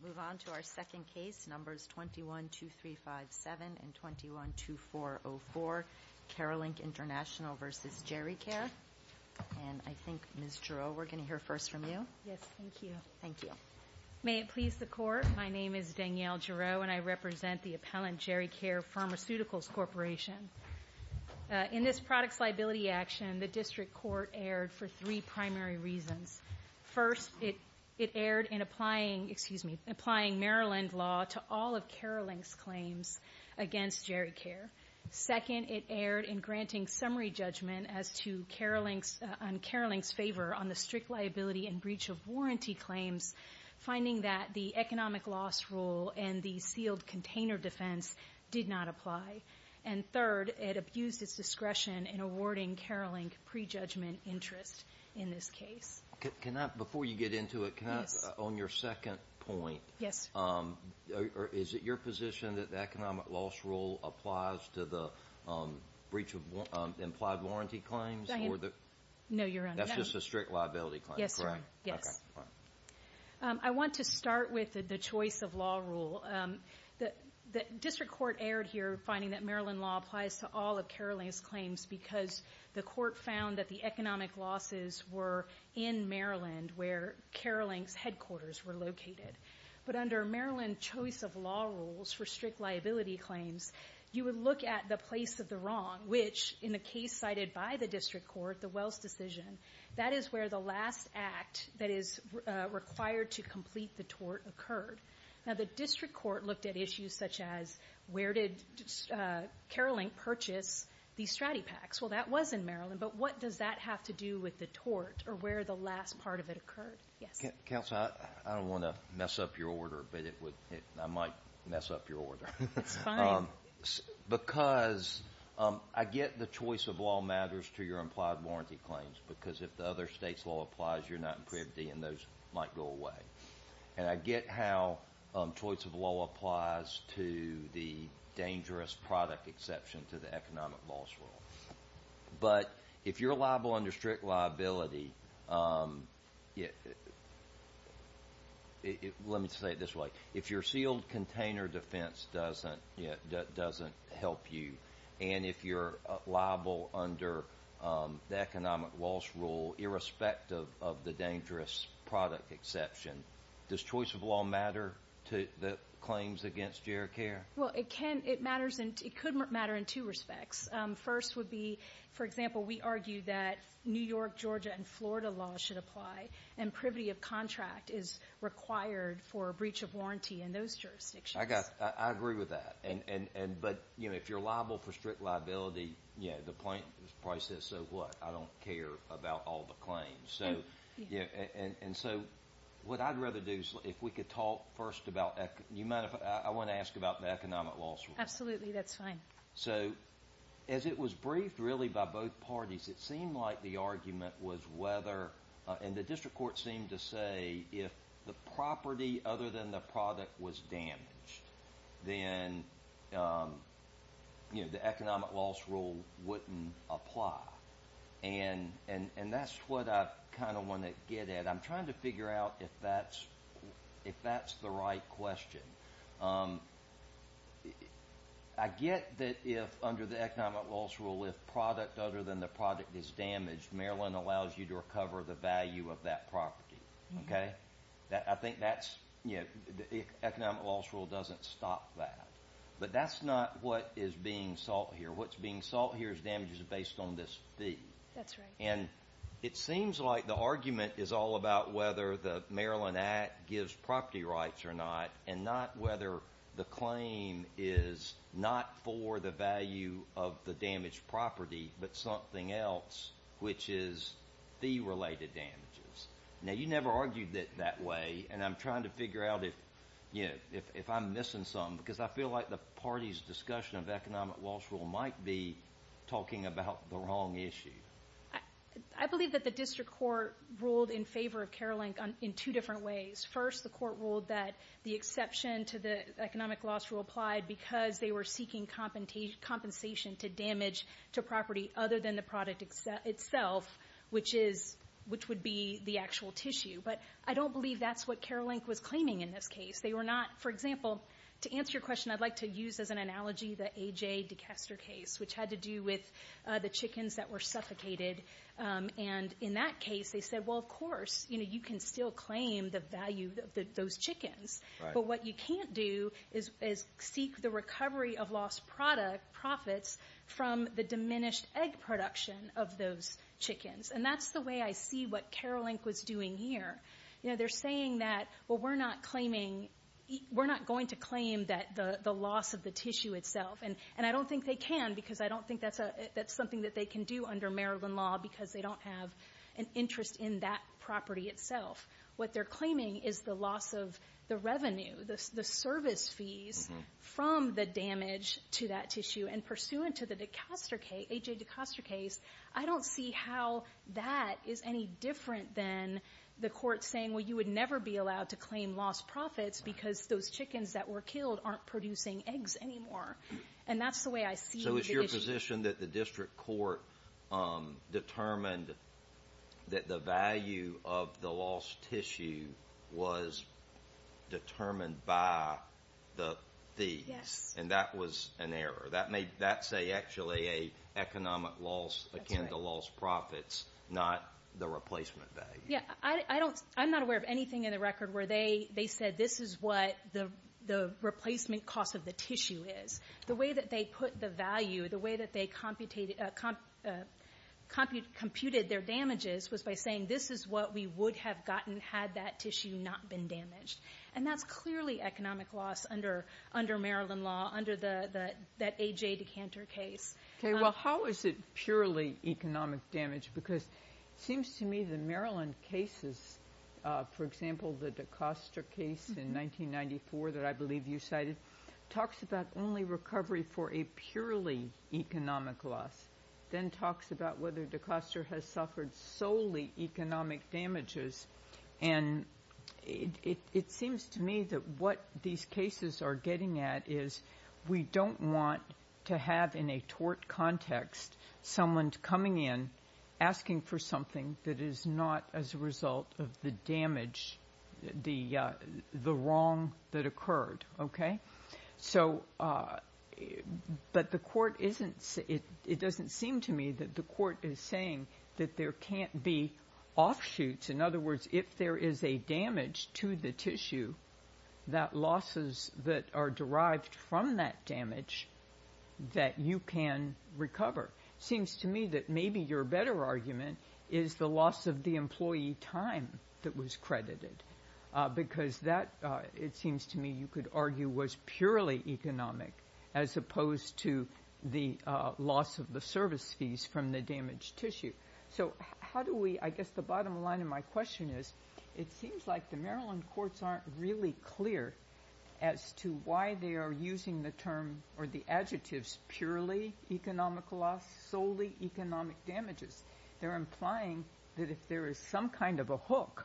Move on to our second case, numbers 21-2357 and 21-2404, Keralink International v. Geri-Care. And I think, Ms. Giroux, we're going to hear first from you. Yes, thank you. Thank you. May it please the Court, my name is Danielle Giroux, and I represent the appellant Geri-Care Pharmaceuticals Corporation. In this products liability action, the District Court erred for three primary reasons. First, it erred in applying Maryland law to all of Keralink's claims against Geri-Care. Second, it erred in granting summary judgment as to Keralink's favor on the strict liability and breach of warranty claims, finding that the economic loss rule and the sealed container defense did not apply. And third, it abused its discretion in awarding Keralink prejudgment interest in this case. Before you get into it, can I, on your second point, is it your position that the economic loss rule applies to the breach of implied warranty claims? No, Your Honor. That's just a strict liability claim, correct? Yes, Your Honor. I want to start with the choice of law rule. The District Court erred here, finding that Maryland law applies to all of Keralink's claims because the court found that the economic losses were in Maryland, where Keralink's headquarters were located. But under Maryland choice of law rules for strict liability claims, you would look at the place of the wrong, which, in the case cited by the District Court, the Wells decision, that is where the last act that is required to complete the tort occurred. Now, the District Court looked at issues such as where did Keralink purchase these stratipacs? Well, that was in Maryland, but what does that have to do with the tort or where the last part of it occurred? Yes. Counsel, I don't want to mess up your order, but I might mess up your order. It's fine. Because I get the choice of law matters to your implied warranty claims, because if the other state's law applies, you're not in privity and those might go away. And I get how choice of law applies to the dangerous product exception to the economic loss rule. But if you're liable under strict liability, let me say it this way, if your sealed container defense doesn't help you and if you're liable under the economic loss rule, irrespective of the dangerous product exception, does choice of law matter to the claims against your care? Well, it can. It matters. It could matter in two respects. First would be, for example, we argue that New York, Georgia, and Florida laws should apply and privity of contract is required for a breach of warranty in those jurisdictions. I agree with that. But if you're liable for strict liability, the plaintiff probably says, so what? I don't care about all the claims. And so what I'd rather do is if we could talk first about, I want to ask about the economic loss rule. Absolutely. That's fine. So, as it was briefed really by both parties, it seemed like the argument was whether, and the district court seemed to say, if the property other than the product was damaged, then the economic loss rule wouldn't apply. And that's what I kind of want to get at. I'm trying to figure out if that's the right question. I get that if, under the economic loss rule, if product other than the product is damaged, Maryland allows you to recover the value of that property. I think that's, the economic loss rule doesn't stop that. But that's not what is being sought here. What's being sought here is damages based on this fee. And it seems like the argument is all about whether the Maryland Act gives property rights or not, and not whether the claim is not for the value of the damaged property, but something else, which is fee-related damages. Now, you never argued it that way, and I'm trying to figure out if I'm missing something. Because I feel like the party's discussion of economic loss rule might be talking about the wrong issue. I believe that the district court ruled in favor of Carolink in two different ways. First, the court ruled that the exception to the economic loss rule applied because they were seeking compensation to damage to property other than the product itself, which would be the actual tissue. But I don't believe that's what Carolink was claiming in this case. They were not, for example, to answer your question, I'd like to use as an analogy the A.J. DeCaster case, which had to do with the chickens that were suffocated. And in that case, they said, well, of course, you can still claim the value of those chickens. But what you can't do is seek the recovery of lost profits from the diminished egg production of those chickens. And that's the way I see what Carolink was doing here. They're saying that, well, we're not going to claim the loss of the tissue itself. And I don't think they can, because I don't think that's something that they can do under Maryland law, because they don't have an interest in that property itself. What they're claiming is the loss of the revenue, the service fees from the damage to that tissue. And pursuant to the A.J. DeCaster case, I don't see how that is any different than the court saying, well, you would never be allowed to claim lost profits because those chickens that were killed aren't producing eggs anymore. And that's the way I see the issue. So it's your position that the district court determined that the value of the lost tissue was determined by the thieves. And that was an error. That's actually an economic loss akin to lost profits, not the replacement value. Yeah. I'm not aware of anything in the record where they said this is what the replacement cost of the tissue is. The way that they put the value, the way that they computed their damages was by saying this is what we would have gotten had that tissue not been damaged. And that's clearly economic loss under Maryland law, under that A.J. DeCanter case. Okay. Well, how is it purely economic damage? Because it seems to me the Maryland cases, for example, the DeCaster case in 1994 that I believe you cited, talks about only recovery for a purely economic loss, then talks about whether DeCaster has suffered solely economic damages. And it seems to me that what these cases are getting at is we don't want to have in a tort context someone coming in, asking for something that is not as a result of the damage, the wrong that occurred. Okay? So, but the court isn't, it doesn't seem to me that the court is saying that there can't be offshoots. In other words, if there is a damage to the tissue, that losses that are derived from that damage, that you can recover. Seems to me that maybe your better argument is the loss of the employee time that was purely economic, as opposed to the loss of the service fees from the damaged tissue. So how do we, I guess the bottom line of my question is, it seems like the Maryland courts aren't really clear as to why they are using the term or the adjectives purely economic loss, solely economic damages. They're implying that if there is some kind of a hook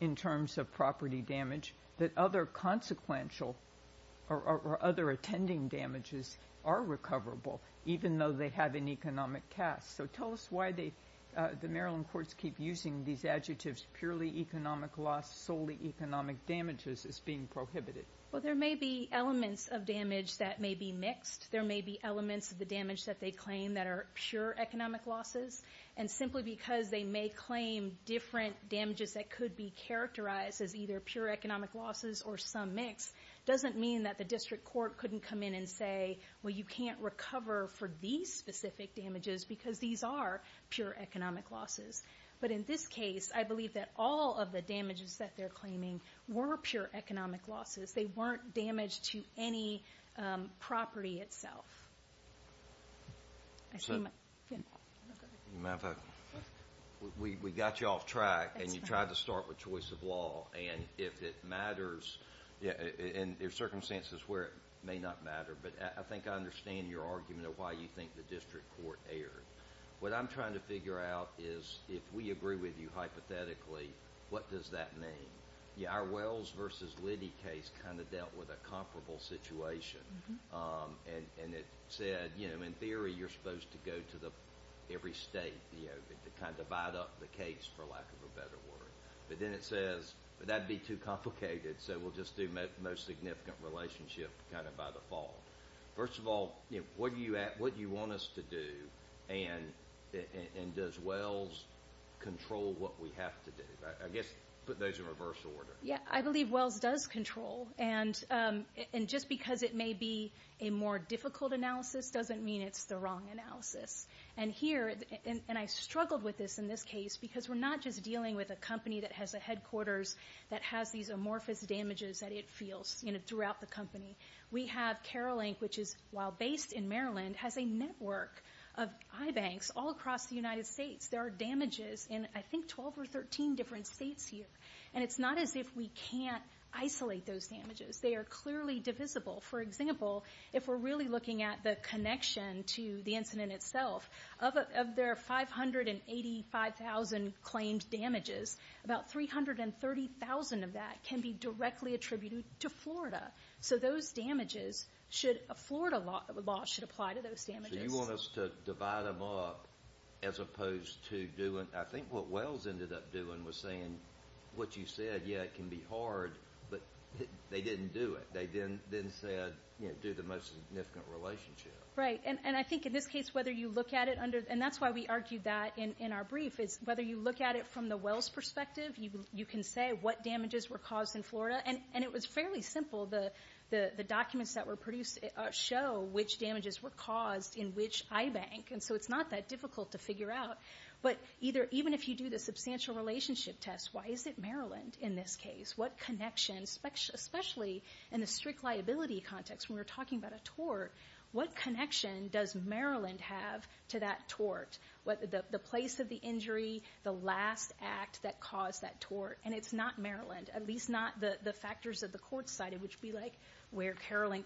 in terms of property damage, that other consequential or other attending damages are recoverable, even though they have an economic cast. So tell us why the Maryland courts keep using these adjectives purely economic loss, solely economic damages as being prohibited. Well, there may be elements of damage that may be mixed. There may be elements of the damage that they claim that are pure economic losses. And simply because they may claim different damages that could be characterized as either pure economic losses or some mix, doesn't mean that the district court couldn't come in and say, well, you can't recover for these specific damages because these are pure economic losses. But in this case, I believe that all of the damages that they're claiming were pure economic losses. They weren't damage to any property itself. I see my, yeah, go ahead. We got you off track and you tried to start with choice of law. And if it matters, and there are circumstances where it may not matter, but I think I understand your argument of why you think the district court erred. What I'm trying to figure out is if we agree with you hypothetically, what does that mean? Our Wells versus Liddy case kind of dealt with a comparable situation. And it said, you know, in theory, you're supposed to go to the every state, you know, to kind of divide up the case, for lack of a better word. But then it says, but that'd be too complicated. So we'll just do most significant relationship kind of by the fall. First of all, what do you want us to do? And does Wells control what we have to do? I guess, put those in reverse order. Yeah, I believe Wells does control. And just because it may be a more difficult analysis doesn't mean it's the wrong analysis. And here, and I struggled with this in this case, because we're not just dealing with a company that has a headquarters that has these amorphous damages that it feels, you know, throughout the company. We have Carol Inc., which is, while based in Maryland, has a network of iBanks all across the United States. There are damages in, I think, 12 or 13 different states here. And it's not as if we can't isolate those damages. They are clearly divisible. For example, if we're really looking at the connection to the incident itself, of their 585,000 claimed damages, about 330,000 of that can be directly attributed to Florida. So those damages should, a Florida law should apply to those damages. So you want us to divide them up as opposed to doing, I think what Wells ended up doing was saying, what you said, yeah, it can be hard, but they didn't do it. They didn't say, you know, do the most significant relationship. Right. And I think in this case, whether you look at it under, and that's why we argued that in our brief, is whether you look at it from the Wells perspective, you can say what damages were caused in Florida. And it was fairly simple. The documents that were produced show which damages were caused in which iBank. And so it's not that difficult to figure out. But even if you do the substantial relationship test, why is it Maryland in this case? What connection, especially in the strict liability context, when we're talking about a tort, what connection does Maryland have to that tort? The place of the injury, the last act that caused that tort. And it's not Maryland. At least not the factors that the court cited, which would be like where Caroline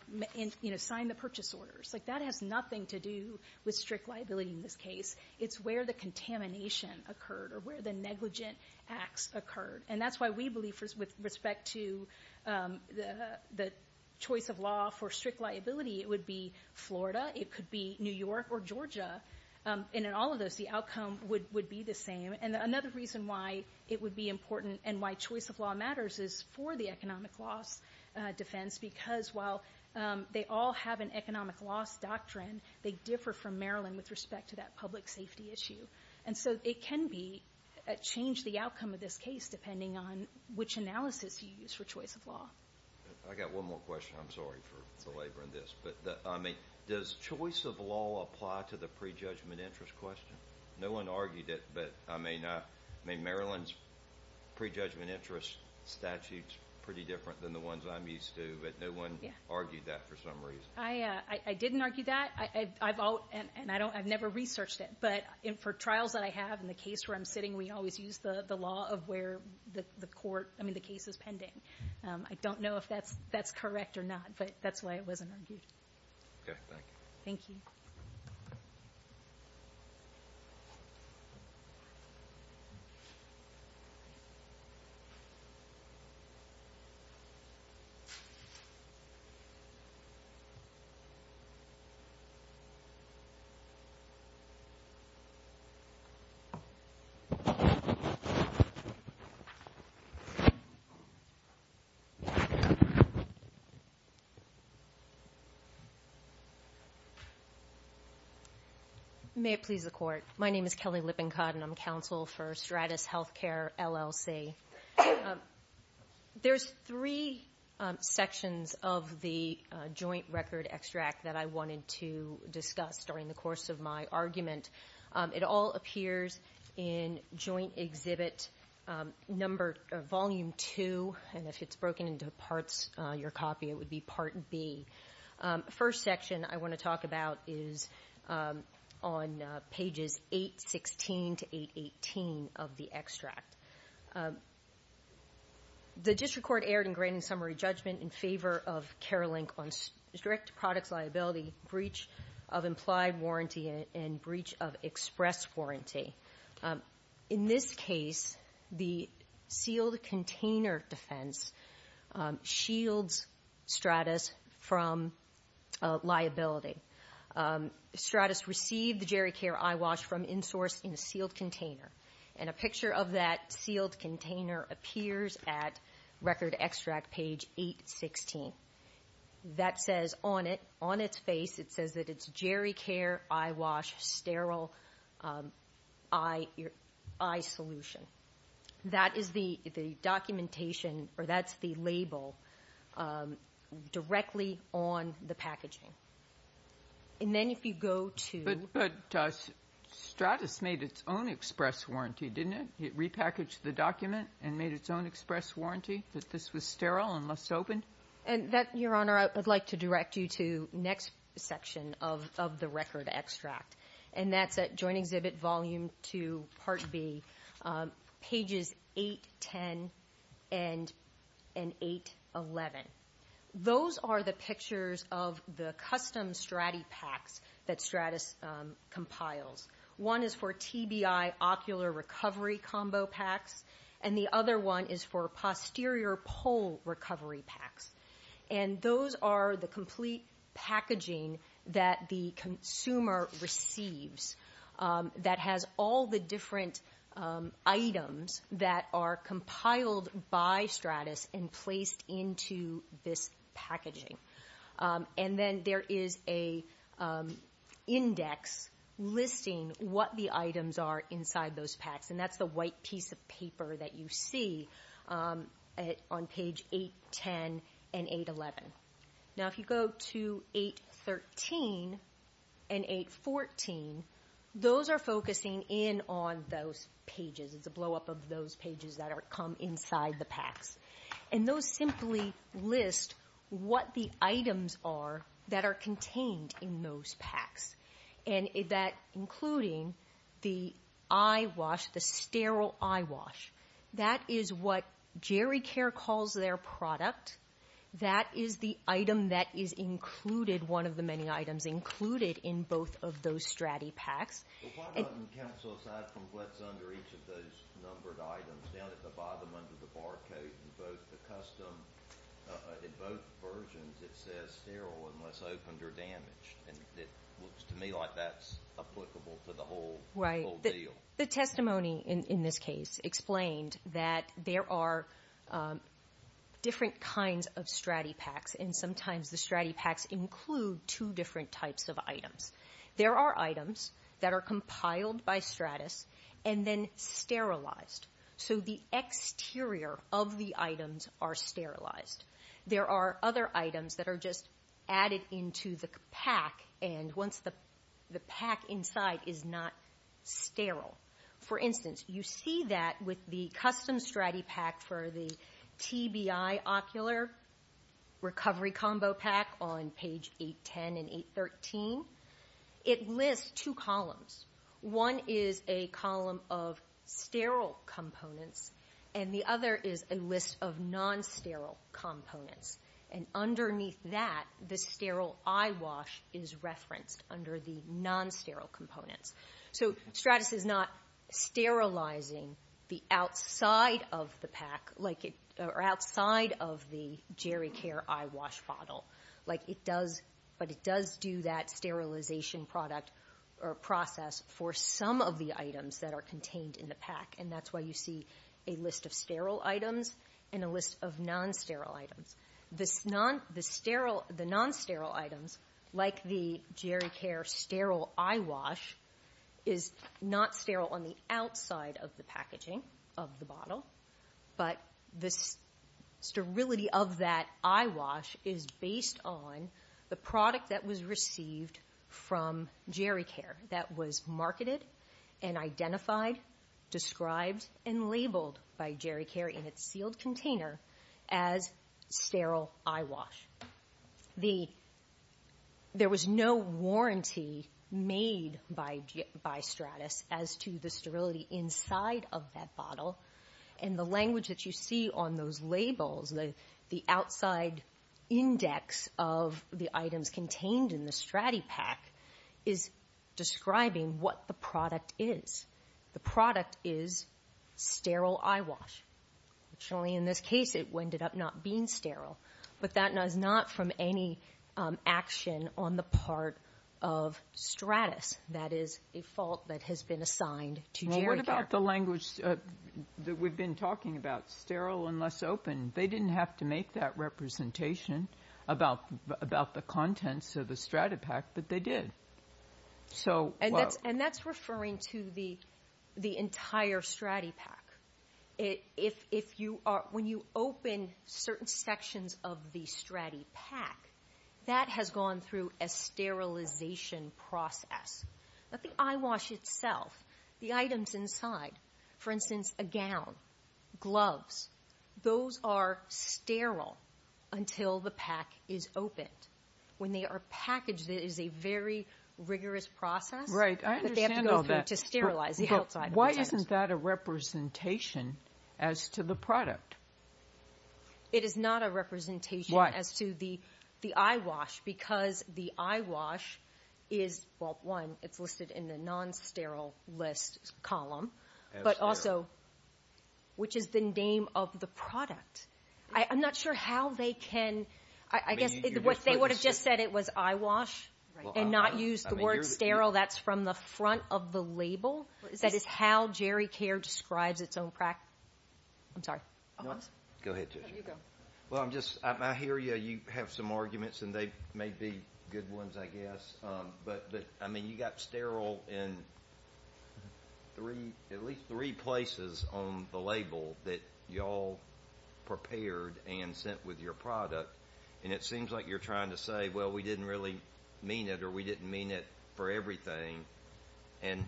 signed the purchase orders. Like that has nothing to do with strict liability in this case. It's where the contamination occurred or where the negligent acts occurred. And that's why we believe with respect to the choice of law for strict liability, it would be Florida. It could be New York or Georgia. And in all of those, the outcome would be the same. And another reason why it would be important and why choice of law matters is for the economic loss defense. Because while they all have an economic loss doctrine, they differ from Maryland with respect to that public safety issue. And so it can change the outcome of this case depending on which analysis you use for choice of law. I've got one more question. I'm sorry for belaboring this, but I mean, does choice of law apply to the prejudgment interest question? No one argued it, but I mean, Maryland's prejudgment interest statute is pretty different than the ones I'm used to, but no one argued that for some reason. I didn't argue that. And I've never researched it, but for trials that I have in the case where I'm sitting, we always use the law of where the case is pending. I don't know if that's correct or not, but that's why it wasn't argued. OK, thank you. Thank you. May it please the Court. My name is Kelly Lippincott, and I'm counsel for Stratus Healthcare, LLC. There's three sections of the joint record extract that I wanted to discuss during the course of my argument. It all appears in Joint Exhibit Volume 2, and if it's broken into parts, your copy, it would be Part B. The first section I want to talk about is on pages 816 to 818 of the Joint Exhibit Volume 2. The district court erred in granting summary judgment in favor of Care Link on strict products liability, breach of implied warranty, and breach of express warranty. In this case, the sealed container defense shields Stratus from liability. Stratus received the GeriCare iWash from in-source in a sealed container, and a picture of that sealed container appears at record extract page 816. That says on it, on its face, it says that it's GeriCare iWash sterile eye solution. That is the documentation, or that's the label, directly on the packaging. And then if you go to... But Stratus made its own express warranty, didn't it? It repackaged the document and made its own express warranty that this was sterile and must open? And that, Your Honor, I would like to direct you to next section of the record extract, and that's at Joint Exhibit Volume 2, Part B, pages 810 and 811. Those are the pictures of the custom StratiPaks that Stratus compiles. One is for TBI ocular recovery combo packs, and the other one is for posterior pole recovery packs. And those are the complete packaging that the consumer receives that has all the different items that are compiled by Stratus and placed into this packaging. And then there is an index listing what the items are inside those packs, and that's the white piece of paper that you see on page 810 and 811. Now if you go to 813 and 814, those are focusing in on those pages. It's a blowup of those pages that come inside the packs. And those simply list what the items are that are contained in those packs, and that including the eyewash, the sterile eyewash. That is what GeriCare calls their product. That is the item that is included, one of the many items included in both of those StratiPaks. Why not cancel aside from what's under each of those numbered items? Down at the bottom under the barcode, in both versions, it says sterile unless opened or damaged. To me, that's applicable to the whole deal. The testimony in this case explained that there are different kinds of StratiPaks, and sometimes the StratiPaks include two different types of items. There are items that are compiled by Stratis and then sterilized. So the exterior of the items are sterilized. There are other items that are just added into the pack, and once the pack inside is not sterile. For instance, you see that with the custom StratiPak for the TBI ocular recovery combo pack on page 810 and 813, it lists two columns. One is a column of sterile components, and the other is a list of non-sterile components, and underneath that, the sterile eyewash is referenced under the non-sterile components. So Stratis is not sterilizing the outside of the pack, or outside of the GeriCare eyewash bottle, but it does do that sterilization process for some of the items that are contained in the pack. And that's why you see a list of sterile items and a list of non-sterile items. The non-sterile items, like the GeriCare sterile eyewash, is not sterile on the outside of the packaging of the bottle, but the sterility of that eyewash is based on the product that was received from GeriCare that was marketed and identified, described, and labeled by Stratis as sterile eyewash. There was no warranty made by Stratis as to the sterility inside of that bottle. And the language that you see on those labels, the outside index of the items contained in the StratiPak is describing what the product is. The product is sterile eyewash. In this case, it ended up not being sterile. But that is not from any action on the part of Stratis. That is a fault that has been assigned to GeriCare. What about the language that we've been talking about, sterile and less open? They didn't have to make that representation about the contents of the StratiPak, but they did. And that's referring to the entire StratiPak. If you are, when you open certain sections of the StratiPak, that has gone through a sterilization process. But the eyewash itself, the items inside, for instance, a gown, gloves, those are sterile until the pack is opened. When they are packaged, it is a very rigorous process that they have to go through to sterilize the outside of the items. Isn't that a representation as to the product? It is not a representation as to the eyewash because the eyewash is, well, one, it's listed in the non-sterile list column, but also, which is the name of the product. I'm not sure how they can, I guess what they would have just said it was eyewash and not use the word sterile. That's from the front of the label. That is how GeriCare describes its own practice. I'm sorry. Go ahead, Tricia. You go. Well, I'm just, I hear you have some arguments and they may be good ones, I guess, but, I mean, you got sterile in at least three places on the label that you all prepared and sent with your product. And it seems like you're trying to say, well, we didn't really mean it or we didn't mean it for everything. And,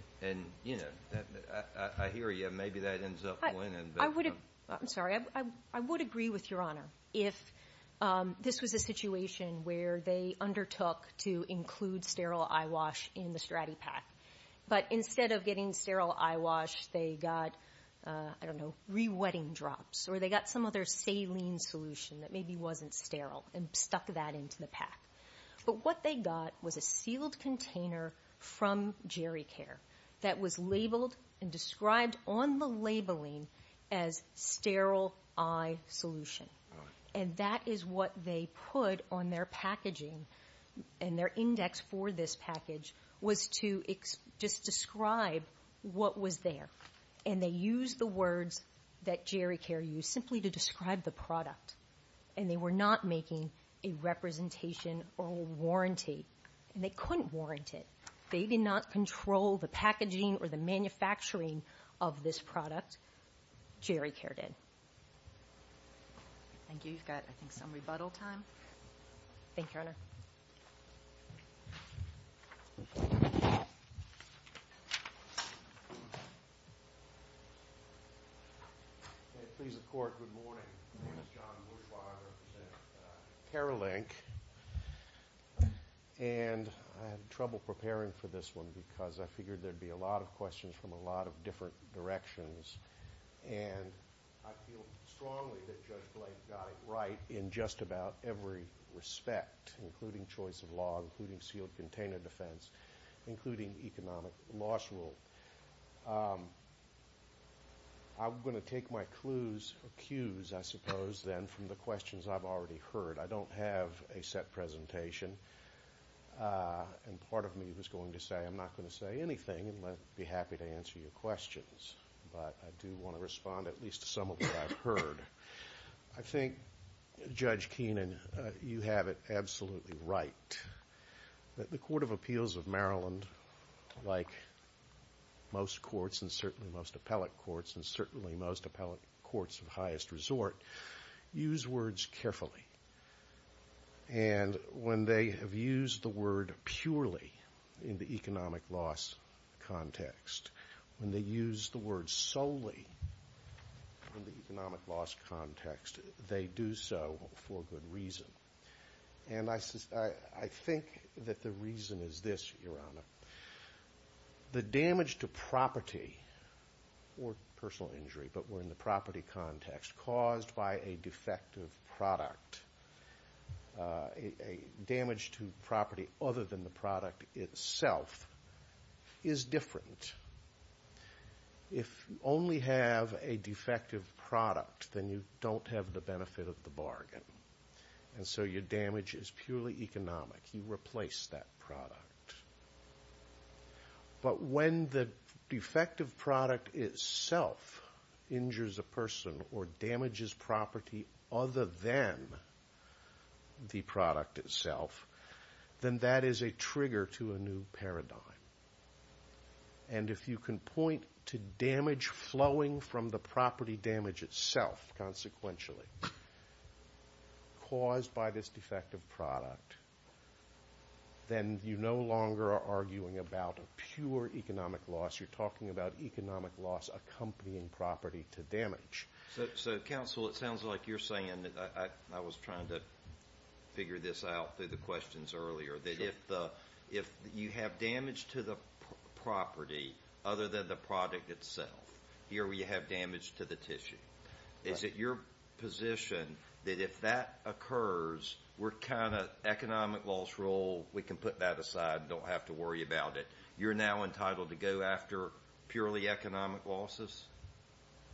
you know, I hear you. Maybe that ends up winning. I would have, I'm sorry, I would agree with Your Honor if this was a situation where they undertook to include sterile eyewash in the StratiPak. But instead of getting sterile eyewash, they got, I don't know, re-wetting drops or they got some other saline solution that maybe wasn't sterile and stuck that into the pack. But what they got was a sealed container from GeriCare that was labeled and described on the labeling as sterile eye solution. And that is what they put on their packaging and their index for this package was to just describe what was there. And they used the words that GeriCare used simply to describe the product. And they were not making a representation or a warranty and they couldn't warrant it. They did not control the packaging or the manufacturing of this product, GeriCare did. Thank you. You've got, I think, some rebuttal time. Thank you, Your Honor. Okay. Please report. Good morning. My name is John. I'm a Bush Lawyer. I represent Paralink. And I had trouble preparing for this one because I figured there'd be a lot of questions from a lot of different directions. And I feel strongly that Judge Blake got it right in just about every respect, including choice of law, including sealed container defense, including economic loss rule. I'm going to take my clues, or cues, I suppose, then, from the questions I've already heard. I don't have a set presentation and part of me was going to say I'm not going to say anything unless I'd be happy to answer your questions, but I do want to respond at least to some of what I've heard. I think, Judge Keenan, you have it absolutely right that the Court of Appeals of Maryland, like most courts, and certainly most appellate courts, and certainly most appellate courts of highest resort, use words carefully. And when they have used the word purely in the economic loss context, when they use the word solely in the economic loss context, they do so for good reason. And I think that the reason is this, Your Honor. The damage to property, or personal injury, but we're in the property context, caused by a defective product, a damage to property other than the product itself, is different. If you only have a defective product, then you don't have the benefit of the bargain. And so your damage is purely economic. You replace that product. But when the defective product itself injures a person or damages property other than the product itself, then that is a trigger to a new paradigm. And if you can point to damage flowing from the property damage itself, consequentially, caused by this defective product, then you no longer are arguing about pure economic loss. You're talking about economic loss accompanying property to damage. So counsel, it sounds like you're saying, I was trying to figure this out through the to the property other than the product itself, here where you have damage to the tissue. Is it your position that if that occurs, we're kind of, economic loss rule, we can put that aside and don't have to worry about it. You're now entitled to go after purely economic losses?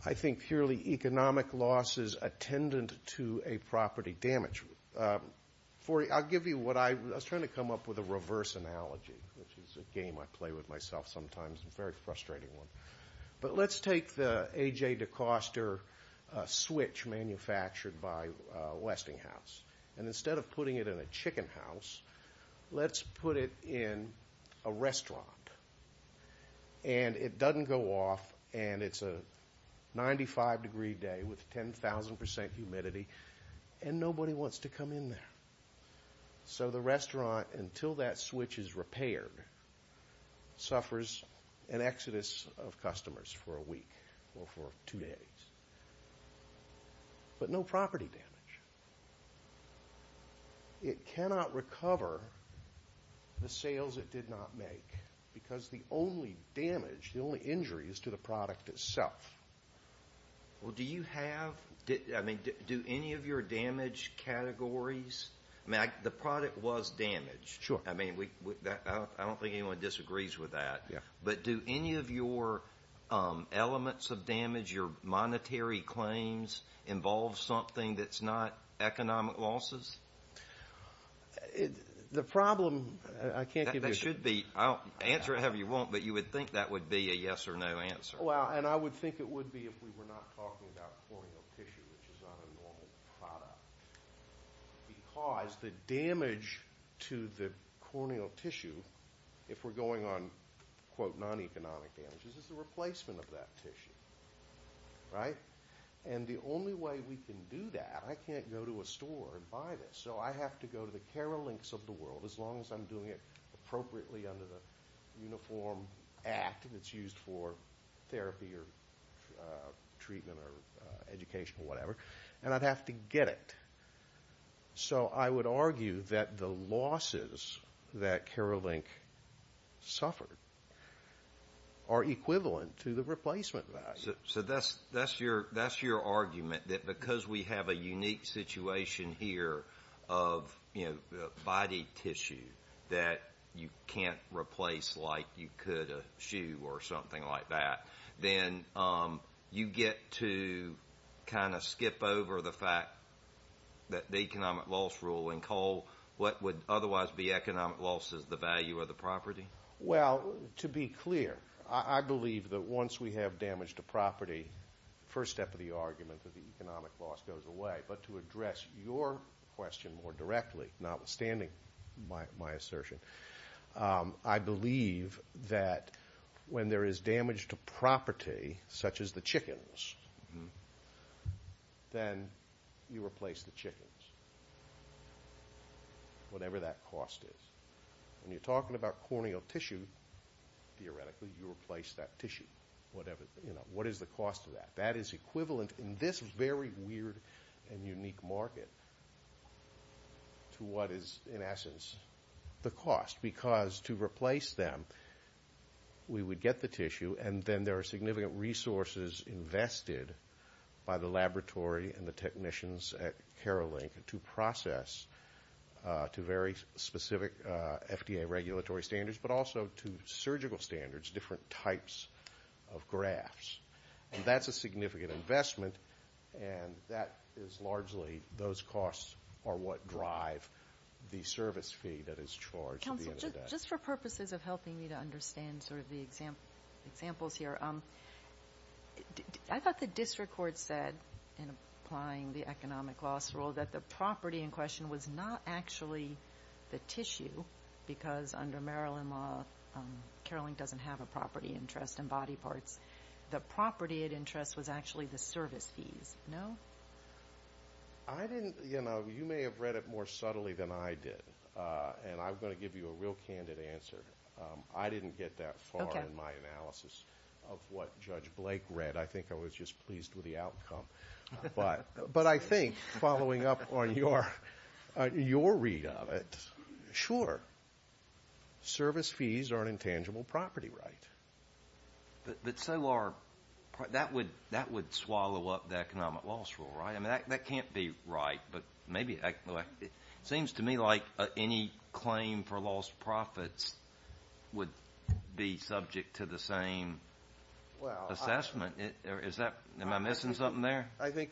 I think purely economic losses attendant to a property damage. I'll give you what I, I was trying to come up with a reverse analogy, which is a game I play with myself sometimes, a very frustrating one. But let's take the AJ DeCoster switch manufactured by Westinghouse, and instead of putting it in a chicken house, let's put it in a restaurant. And it doesn't go off, and it's a 95 degree day with 10,000% humidity, and nobody wants to come in there. So the restaurant, until that switch is repaired, suffers an exodus of customers for a week or for two days. But no property damage. It cannot recover the sales it did not make, because the only damage, the only injury is to the product itself. Well, do you have, I mean, do any of your damage categories, I mean, the product was damaged. Sure. I mean, we, I don't think anyone disagrees with that. Yeah. But do any of your elements of damage, your monetary claims, involve something that's not economic losses? The problem, I can't give you a... That should be, answer it however you want, but you would think that would be a yes or no answer. Well, and I would think it would be if we were not talking about corneal tissue, which is not a normal product. Because the damage to the corneal tissue, if we're going on, quote, non-economic damages, is the replacement of that tissue, right? And the only way we can do that, I can't go to a store and buy this. So I have to go to the Carolinx of the world, as long as I'm doing it appropriately under the Uniform Act, and it's used for therapy or treatment or education or whatever. And I'd have to get it. So I would argue that the losses that Carolinx suffered are equivalent to the replacement value. So that's your argument, that because we have a unique situation here of, you know, body tissue that you can't replace like you could a shoe or something like that, then you get to kind of skip over the fact that the economic loss rule in coal, what would otherwise be economic loss is the value of the property? Well, to be clear, I believe that once we have damage to property, the first step of the argument that the economic loss goes away. But to address your question more directly, notwithstanding my assertion, I believe that when there is damage to property, such as the chickens, then you replace the chickens. Whatever that cost is. When you're talking about corneal tissue, theoretically, you replace that tissue. Whatever, you know, what is the cost of that? That is equivalent in this very weird and unique market to what is, in essence, the cost. Because to replace them, we would get the tissue, and then there are significant resources invested by the laboratory and the technicians at Carolinx to process to very specific FDA regulatory standards, but also to surgical standards, different types of grafts. And that's a significant investment, and that is largely, those costs are what drive the service fee that is charged at the end of the day. Counsel, just for purposes of helping me to understand sort of the examples here, I thought the district court said, in applying the economic loss rule, that the property in question was not actually the tissue, because under Maryland law, Carolinx doesn't have a property interest in body parts. The property at interest was actually the service fees. No? I didn't, you know, you may have read it more subtly than I did, and I'm going to give you a real candid answer. I didn't get that far in my analysis of what Judge Blake read. I think I was just pleased with the outcome. But I think, following up on your read of it, sure, service fees are an intangible property right. But so are, that would swallow up the economic loss rule, right? I mean, that can't be right, but maybe, it seems to me like any claim for lost profits would be subject to the same assessment. Is that, am I missing something there? I think,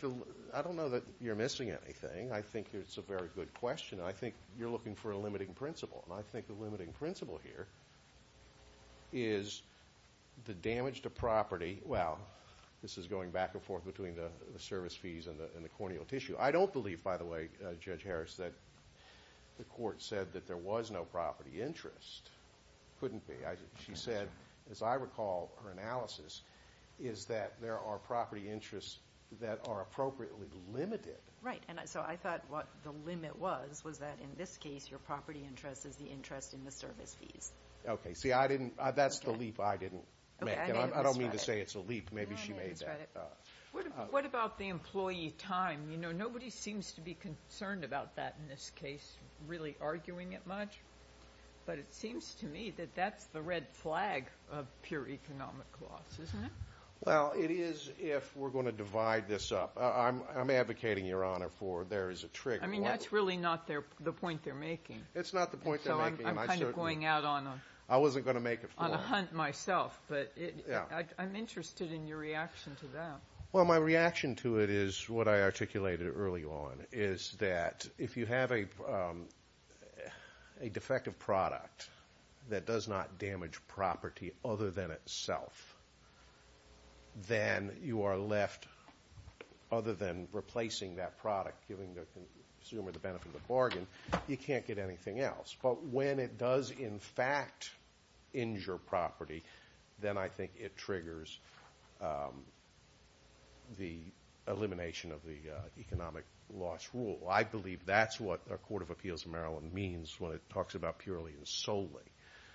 I don't know that you're missing anything. I think it's a very good question. I think you're looking for a limiting principle. And I think the limiting principle here is the damage to property. Well, this is going back and forth between the service fees and the corneal tissue. I don't believe, by the way, Judge Harris, that the court said that there was no property interest. Couldn't be. She said, as I recall her analysis, is that there are property interests that are appropriately limited. Right. And so I thought what the limit was, was that in this case, your property interest is the interest in the service fees. Okay, see, I didn't, that's the leap I didn't make. And I don't mean to say it's a leap. Maybe she made that. No, I didn't misread it. What about the employee time? You know, nobody seems to be concerned about that in this case, really arguing it much. But it seems to me that that's the red flag of pure economic loss, isn't it? Well, it is if we're going to divide this up. I'm advocating, Your Honor, for there is a trigger. I mean, that's really not the point they're making. It's not the point they're making. So I'm kind of going out on a hunt myself. But I'm interested in your reaction to that. Well, my reaction to it is what I articulated early on, is that if you have a defective product that does not damage property other than itself, then you are left, other than replacing that product, giving the consumer the benefit of the bargain, you can't get anything else. But when it does, in fact, injure property, then I think it triggers the elimination of the economic loss rule. I believe that's what a court of appeals in Maryland means when it talks about purely and solely.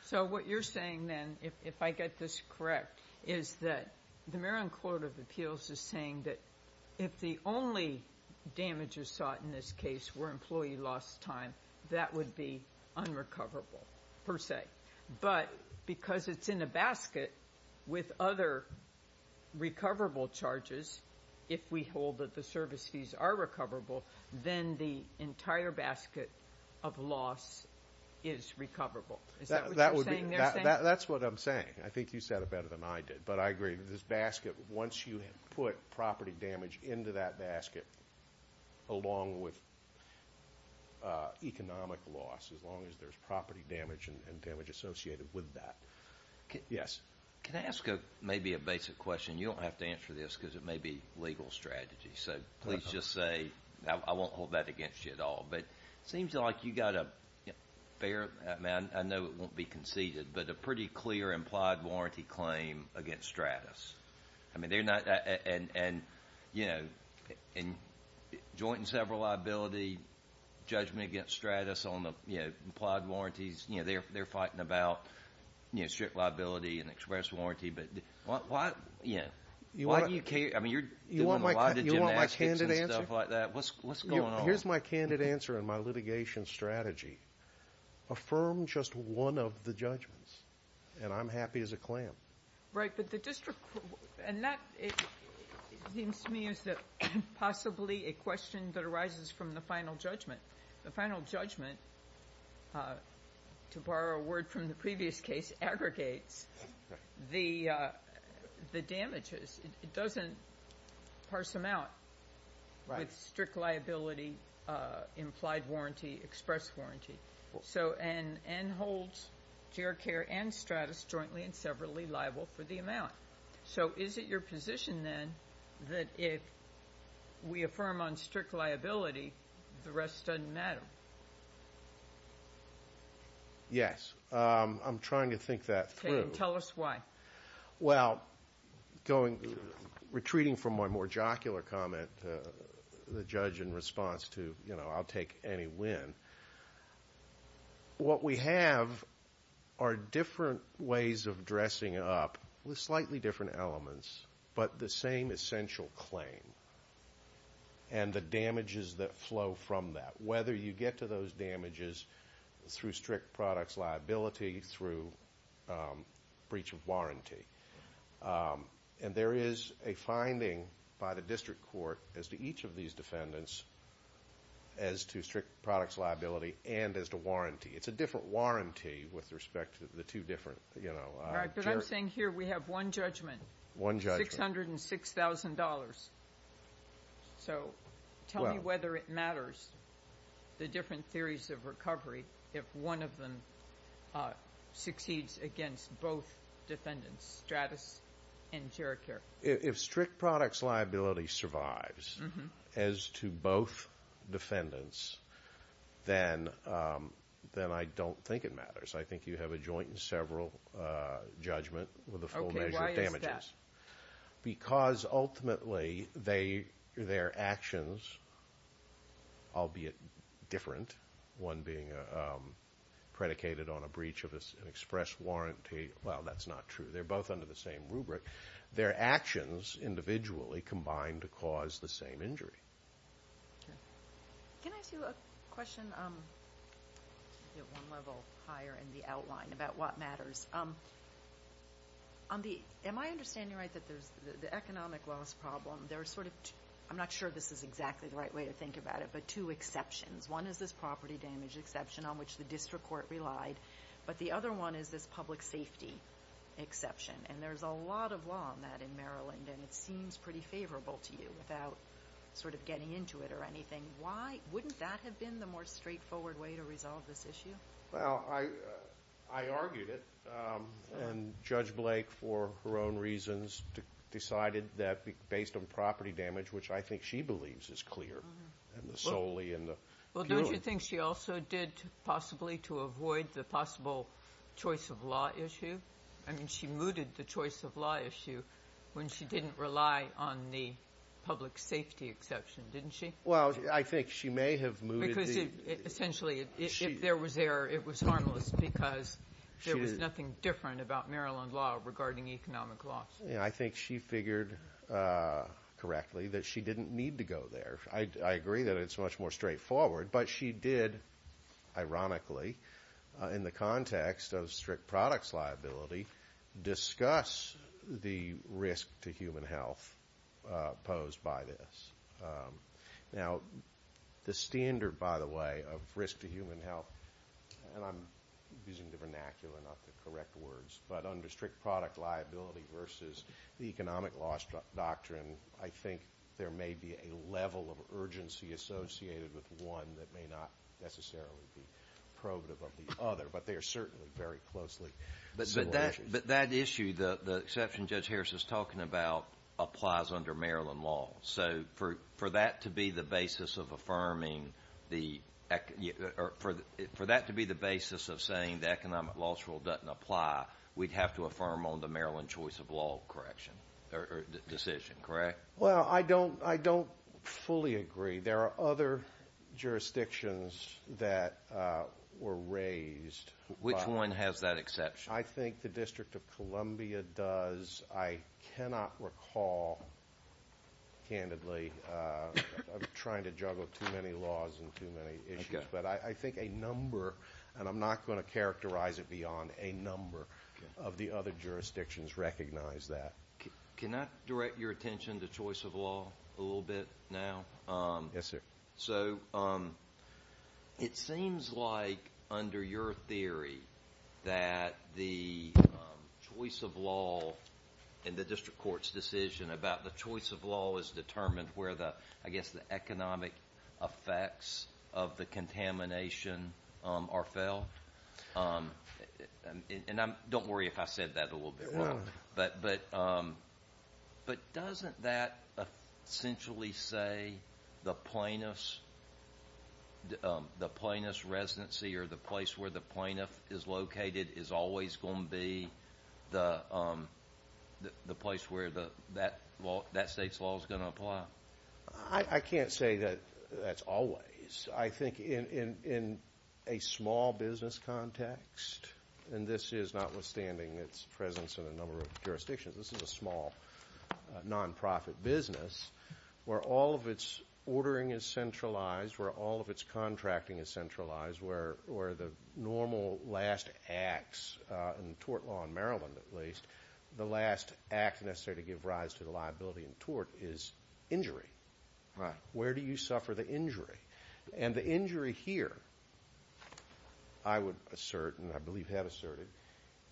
So what you're saying then, if I get this correct, is that the Maryland Court of Appeals is saying that if the only damages sought in this case were employee loss time, that would be unrecoverable, per se. But because it's in a basket with other recoverable charges, if we hold that the service fees are recoverable, then the entire basket of loss is recoverable. Is that what you're saying they're saying? That's what I'm saying. I think you said it better than I did. But I agree that this basket, once you have put property damage into that basket, along with economic loss, as long as there's property damage and damage associated with that. Yes? Can I ask maybe a basic question? You don't have to answer this because it may be legal strategy. So please just say, I won't hold that against you at all. But it seems like you got a fair amount. I know it won't be conceded, but a pretty clear implied warranty claim against Stratus. And joint and several liability judgment against Stratus on the implied warranties, they're fighting about strict liability and express warranty. But why do you care? I mean, you're doing a lot of gymnastics and stuff like that. What's going on? Here's my candid answer and my litigation strategy. Affirm just one of the judgments, and I'm happy as a clam. Right. But the district, and that seems to me as possibly a question that arises from the final judgment. The final judgment, to borrow a word from the previous case, aggregates the damages. It doesn't parse them out. Right. With strict liability, the implied warranty, express warranty. So, and holds GR Care and Stratus jointly and severally liable for the amount. So is it your position then that if we affirm on strict liability, the rest doesn't matter? Yes. I'm trying to think that through. Okay. And tell us why. Well, going, retreating from my more jocular comment, the judge in response to, you know, I'll take any win. What we have are different ways of dressing up with slightly different elements, but the same essential claim and the damages that flow from that. Whether you get to those damages through strict products liability, through breach of warranty. And there is a finding by the district court as to each of these defendants as to strict products liability and as to warranty. It's a different warranty with respect to the two different, you know. Right, but I'm saying here we have one judgment. One judgment. $606,000. So tell me whether it matters the different theories of recovery if one of them succeeds against both defendants, Stratus and GR Care. If strict products liability survives as to both defendants, then I don't think it matters. I think you have a joint and several judgment with a full measure of damages. Okay, why is that? Because ultimately their actions, albeit different, one being predicated on a breach of an express warranty. Well, that's not true. They're both under the same rubric. Their actions individually combine to cause the same injury. Can I ask you a question? One level higher in the outline about what matters. Am I understanding right that the economic loss problem, there are sort of, I'm not sure this is exactly the right way to think about it, but two exceptions. One is this property damage exception on which the district court relied. But the other one is this public safety exception. And there's a lot of law on that in Maryland and it seems pretty favorable to you without sort of getting into it or anything. Wouldn't that have been the more straightforward way to resolve this issue? Well, I argued it and Judge Blake, for her own reasons, decided that based on property damage which I think she believes is clear and solely in the... Well, don't you think she also did possibly to avoid the possible choice of law issue? I mean, she mooted the choice of law issue when she didn't rely on the public safety exception, didn't she? Well, I think she may have mooted... Because essentially if there was error, it was harmless because there was nothing different about Maryland law regarding economic loss. I think she figured correctly that she didn't need to go there. I agree that it's much more straightforward but she did, ironically, in the context of strict products liability, discuss the risk to human health posed by this. Now, the standard, by the way, of risk to human health and I'm using the vernacular not the correct words but under strict product liability versus the economic loss doctrine, I think there may be a level of urgency associated with one that may not necessarily be probative of the other but they are certainly very closely... But that issue, the exception Judge Harris is talking about applies under Maryland law. So for that to be the basis of affirming the... For that to be the basis of saying the economic loss rule doesn't apply, we'd have to affirm on the Maryland choice of law correction or decision, correct? Well, I don't fully agree. There are other jurisdictions that were raised. Which one has that exception? I think the District of Columbia does. I cannot recall, candidly, I'm trying to juggle too many laws and too many issues but I think a number and I'm not gonna characterize it beyond a number of the other jurisdictions recognize that. Can I direct your attention to choice of law a little bit now? Yes, sir. So, it seems like under your theory that the choice of law in the District Court's decision about the choice of law is determined where I guess the economic effects of the contamination are felt. And don't worry if I said that a little bit wrong. But doesn't that essentially say the plaintiff's the plaintiff's residency or the place where the plaintiff is located is always gonna be the place where that state's law is gonna apply? I can't say that that's always. I think in a small business context and this is notwithstanding its presence in a number of jurisdictions. This is a small non-profit business where all of its ordering is centralized where all of its contracting is centralized where the normal last acts in tort law in Maryland at least the last act necessary to give rise to the liability in tort is injury. Where do you suffer the injury? And the injury here I would assert and I believe have asserted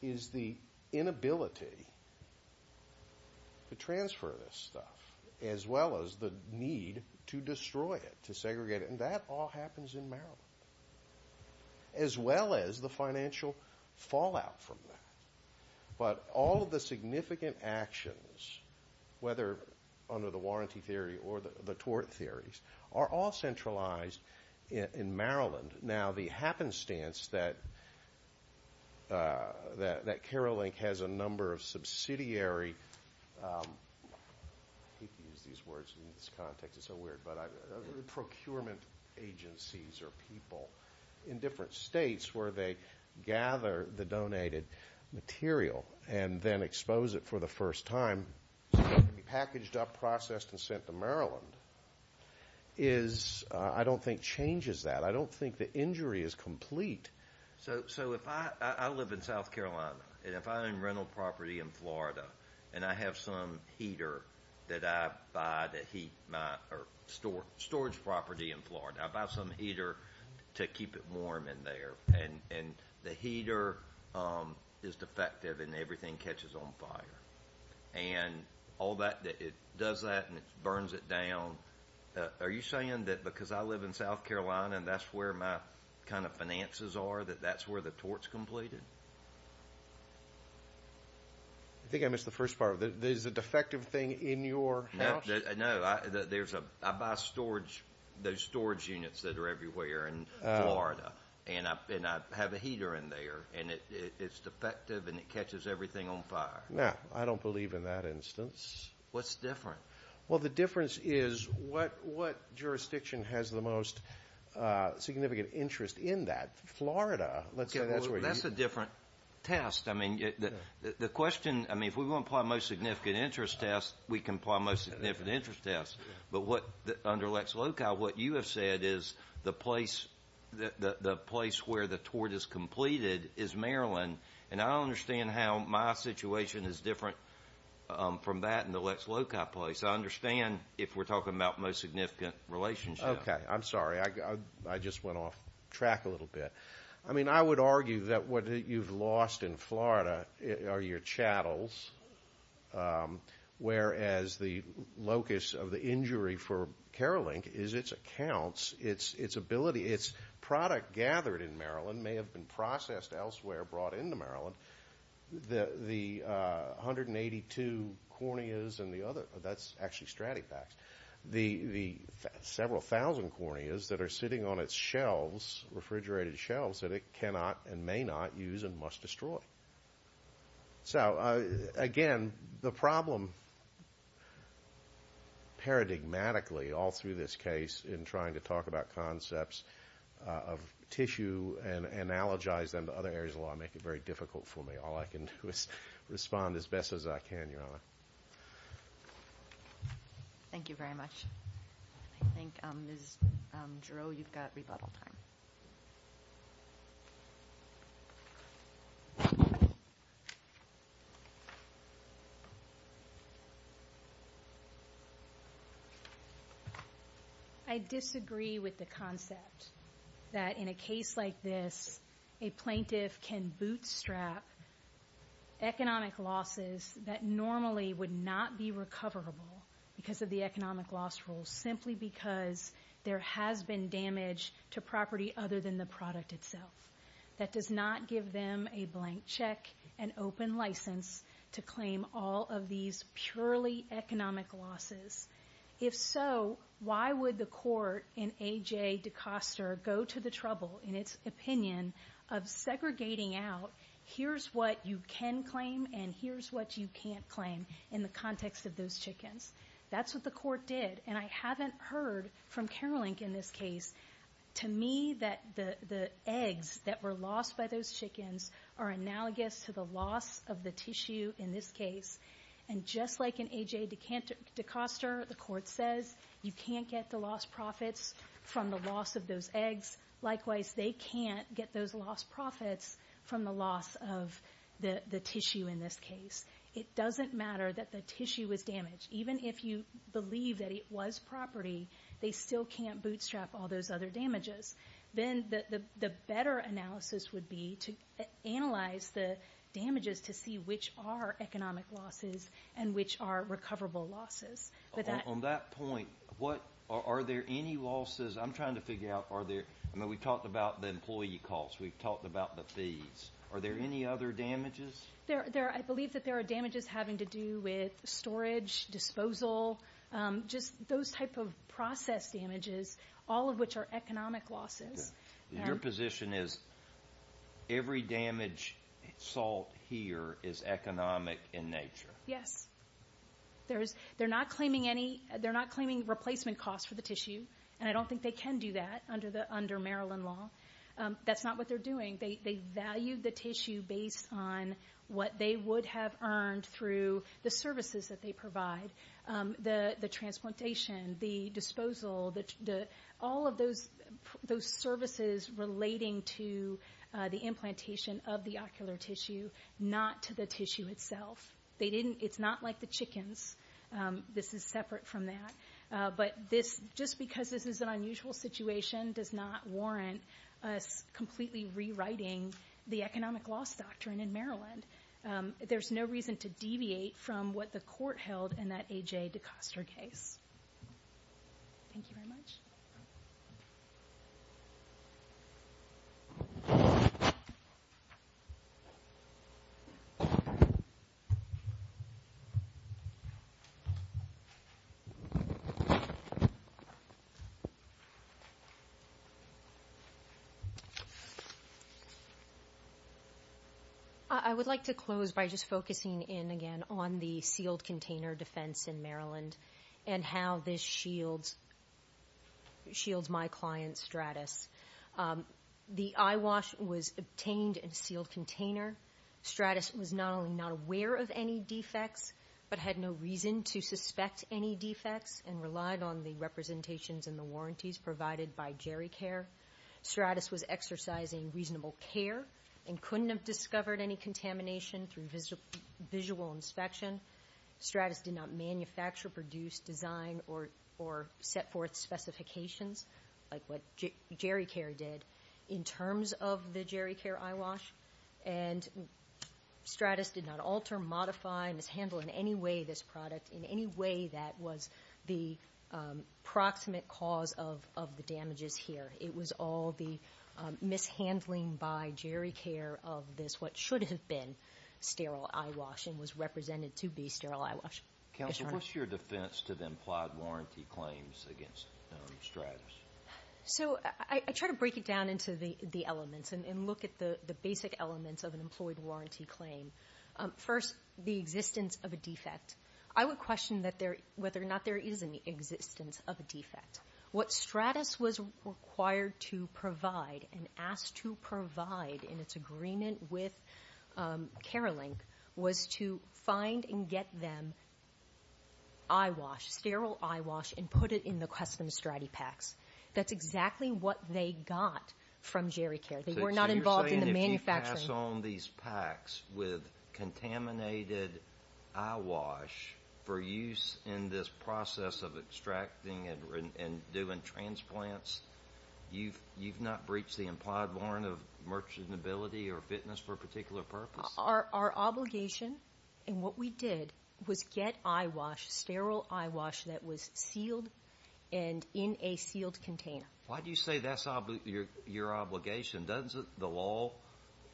is the inability to transfer this stuff as well as the need to destroy it to segregate it and that all happens in Maryland as well as the financial fallout from that but all of the significant actions whether under the warranty theory or the tort theories are all centralized in Maryland. Now the happenstance that that Carol Link has a number of subsidiary procurement agencies or people in different states where they gather the donated material and then expose it for the first time packaged up processed and sent to Maryland is I don't think changes that I don't think the injury is complete. So if I live in South Carolina and if I'm in rental property in Florida and I have some heater that I buy to heat my storage property in Florida I buy some heater to keep it warm in there and the heater is defective and everything catches on fire and all that it does that and it burns it down are you saying because I live in South Carolina that's where my finances are that's where the tort is completed? I think I missed the first part there's a defective thing in your house? No I buy storage units that are everywhere in Florida and I have a heater in there and it's defective and it catches everything on fire I don't believe in that instance what's different? The difference is what jurisdiction has the most significant interest in that Florida that's a different test the question if we want to apply most significant interest test what you have said is the place where the tort is I'm sorry I just went off track a little bit I would argue that what you've lost in Florida are your chattels whereas the locus of the injury for the corneas and the other several thousand corneas that are sitting on its shelves that it cannot and may not use and must destroy so again the problem paradigmatically all through this case in trying to talk about concepts of tissue and other areas all I respond as best as I can your honor thank you very much I think Ms. Giroux you've got rebuttal time I disagree with the concept that in a case like this a plaintiff can bootstrap economic losses that normally would not be recoverable simply because there has been damage to property other than the product itself that does not give them a blank check and open license to claim all of these purely economic losses if so why would the court in its opinion of segregating out here's what you can claim in the context of those chickens that's what the court did and I haven't heard to me that the eggs that were lost by those chickens are analogous to the loss of the tissue in this case and just like in AJ DeCoster the court says you can't get the loss profits from the loss of those eggs likewise they can't get those loss profits from the loss of the tissue in this case it doesn't matter that the tissue was damaged even if you believe that it was property they still can't bootstrap all those other damages then the better analysis would be to analyze the damages to see which are economic losses and recoverable losses on that point are there any losses I'm trying to figure out are there any other damages I believe there are damages storage disposal those type of process damages all economic losses your position is every damage is economic in nature yes they are not claiming replacement costs I don't think they can do that under Maryland law that's not what they're doing they value the tissue based on what they would have earned through the services they provide the disposal all of those services relating to the implantation of the ocular tissue not to the tissue itself it's not like the chickens this is separate from that just because this is an unusual situation does not warrant us completely rewriting the economic loss in Maryland there's no reason to deviate from what the court held in that case thank you very much thank you very much thank you very much I would like to close by just focusing in again on the sealed container defense in Maryland and how this shields shields my client Stratus the I wash was contained in sealed container Stratus was not only not aware of any defects but had no reason to suspect any defects and relied on the representations and the warranties provided by Gericare Stratus was exercising reasonable care and couldn't have discovered any contamination through visual inspection Stratus did not manufacture, produce, design or set forth specifications like what Gericare did in terms of the Gericare I wash and Stratus did not alter, modify, mishandle in any way this product in any way that was the proximate cause of the damages here it was all the mishandling by Gericare of this what should have been sterile I wash and was represented to be sterile I wash Counsel, what's your defense to the implied warranty claims against Stratus so I try to break it down into the elements and look at the basic elements of an employed warranty claim first the existence of a defect I would question that there whether or not there is any existence of a defect what Stratus was required to provide and asked to provide in its agreement with Care Link was to find and get them I wash, sterile I wash and put it in the custom StratiPaks that's exactly what they got from Gericare, they were not involved in the manufacturing so you're saying if you pass on these packs with contaminated I wash for use in this process of extracting and doing transplants you've not breached the implied warrant of merchantability or fitness for a particular purpose our obligation and what we did was get I wash, sterile I wash that was sealed and in a sealed container why do you say that's your obligation doesn't the law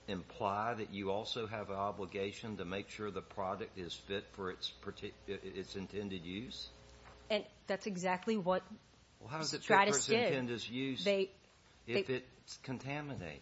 imply that you also have an obligation to make sure the product is fit for its intended use and that's exactly what Stratus did how does it fit for its intended use if it's contaminated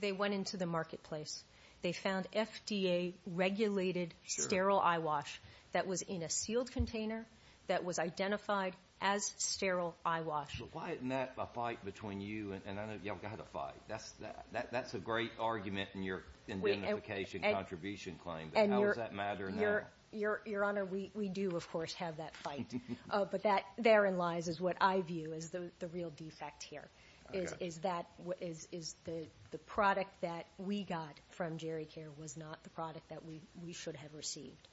they went into the marketplace they found FDA regulated sterile I wash that was in a sealed container that was identified as sterile I wash but why isn't that a fight between you and I know you've got a fight that's a great argument in your identification contribution claim how does that matter now your honor we do of course have that fight but that therein lies is what I view is the real defect here is that is the product that we got from Gericare was not the product that we should have received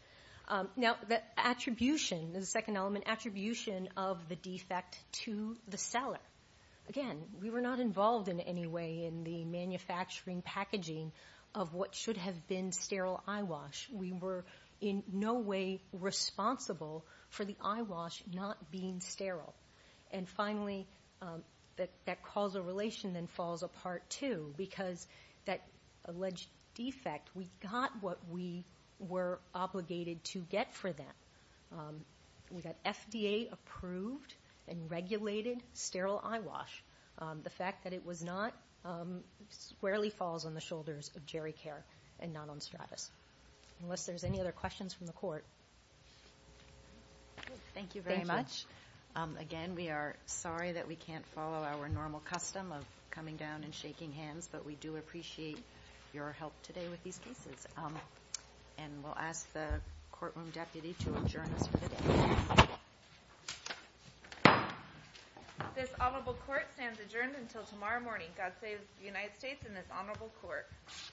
now the attribution the second element attribution of the defect to the seller again we were not involved in any way in the manufacturing packaging of what should have been sterile I wash we were in no way responsible for the I wash not being sterile and finally that causal relation then falls apart too because that alleged defect we got what we were obligated to get for that we got FDA approved and regulated sterile I wash the fact that it was not squarely falls on the shoulders of Gericare and not on Stratis unless there's any other questions from the court thank you very much again we are sorry that we can't follow our normal custom of coming down and shaking hands but we do appreciate your help today with these cases and we'll ask the courtroom deputy to adjourn us for the day this honorable court stands adjourned until tomorrow morning God save the United States and this honorable court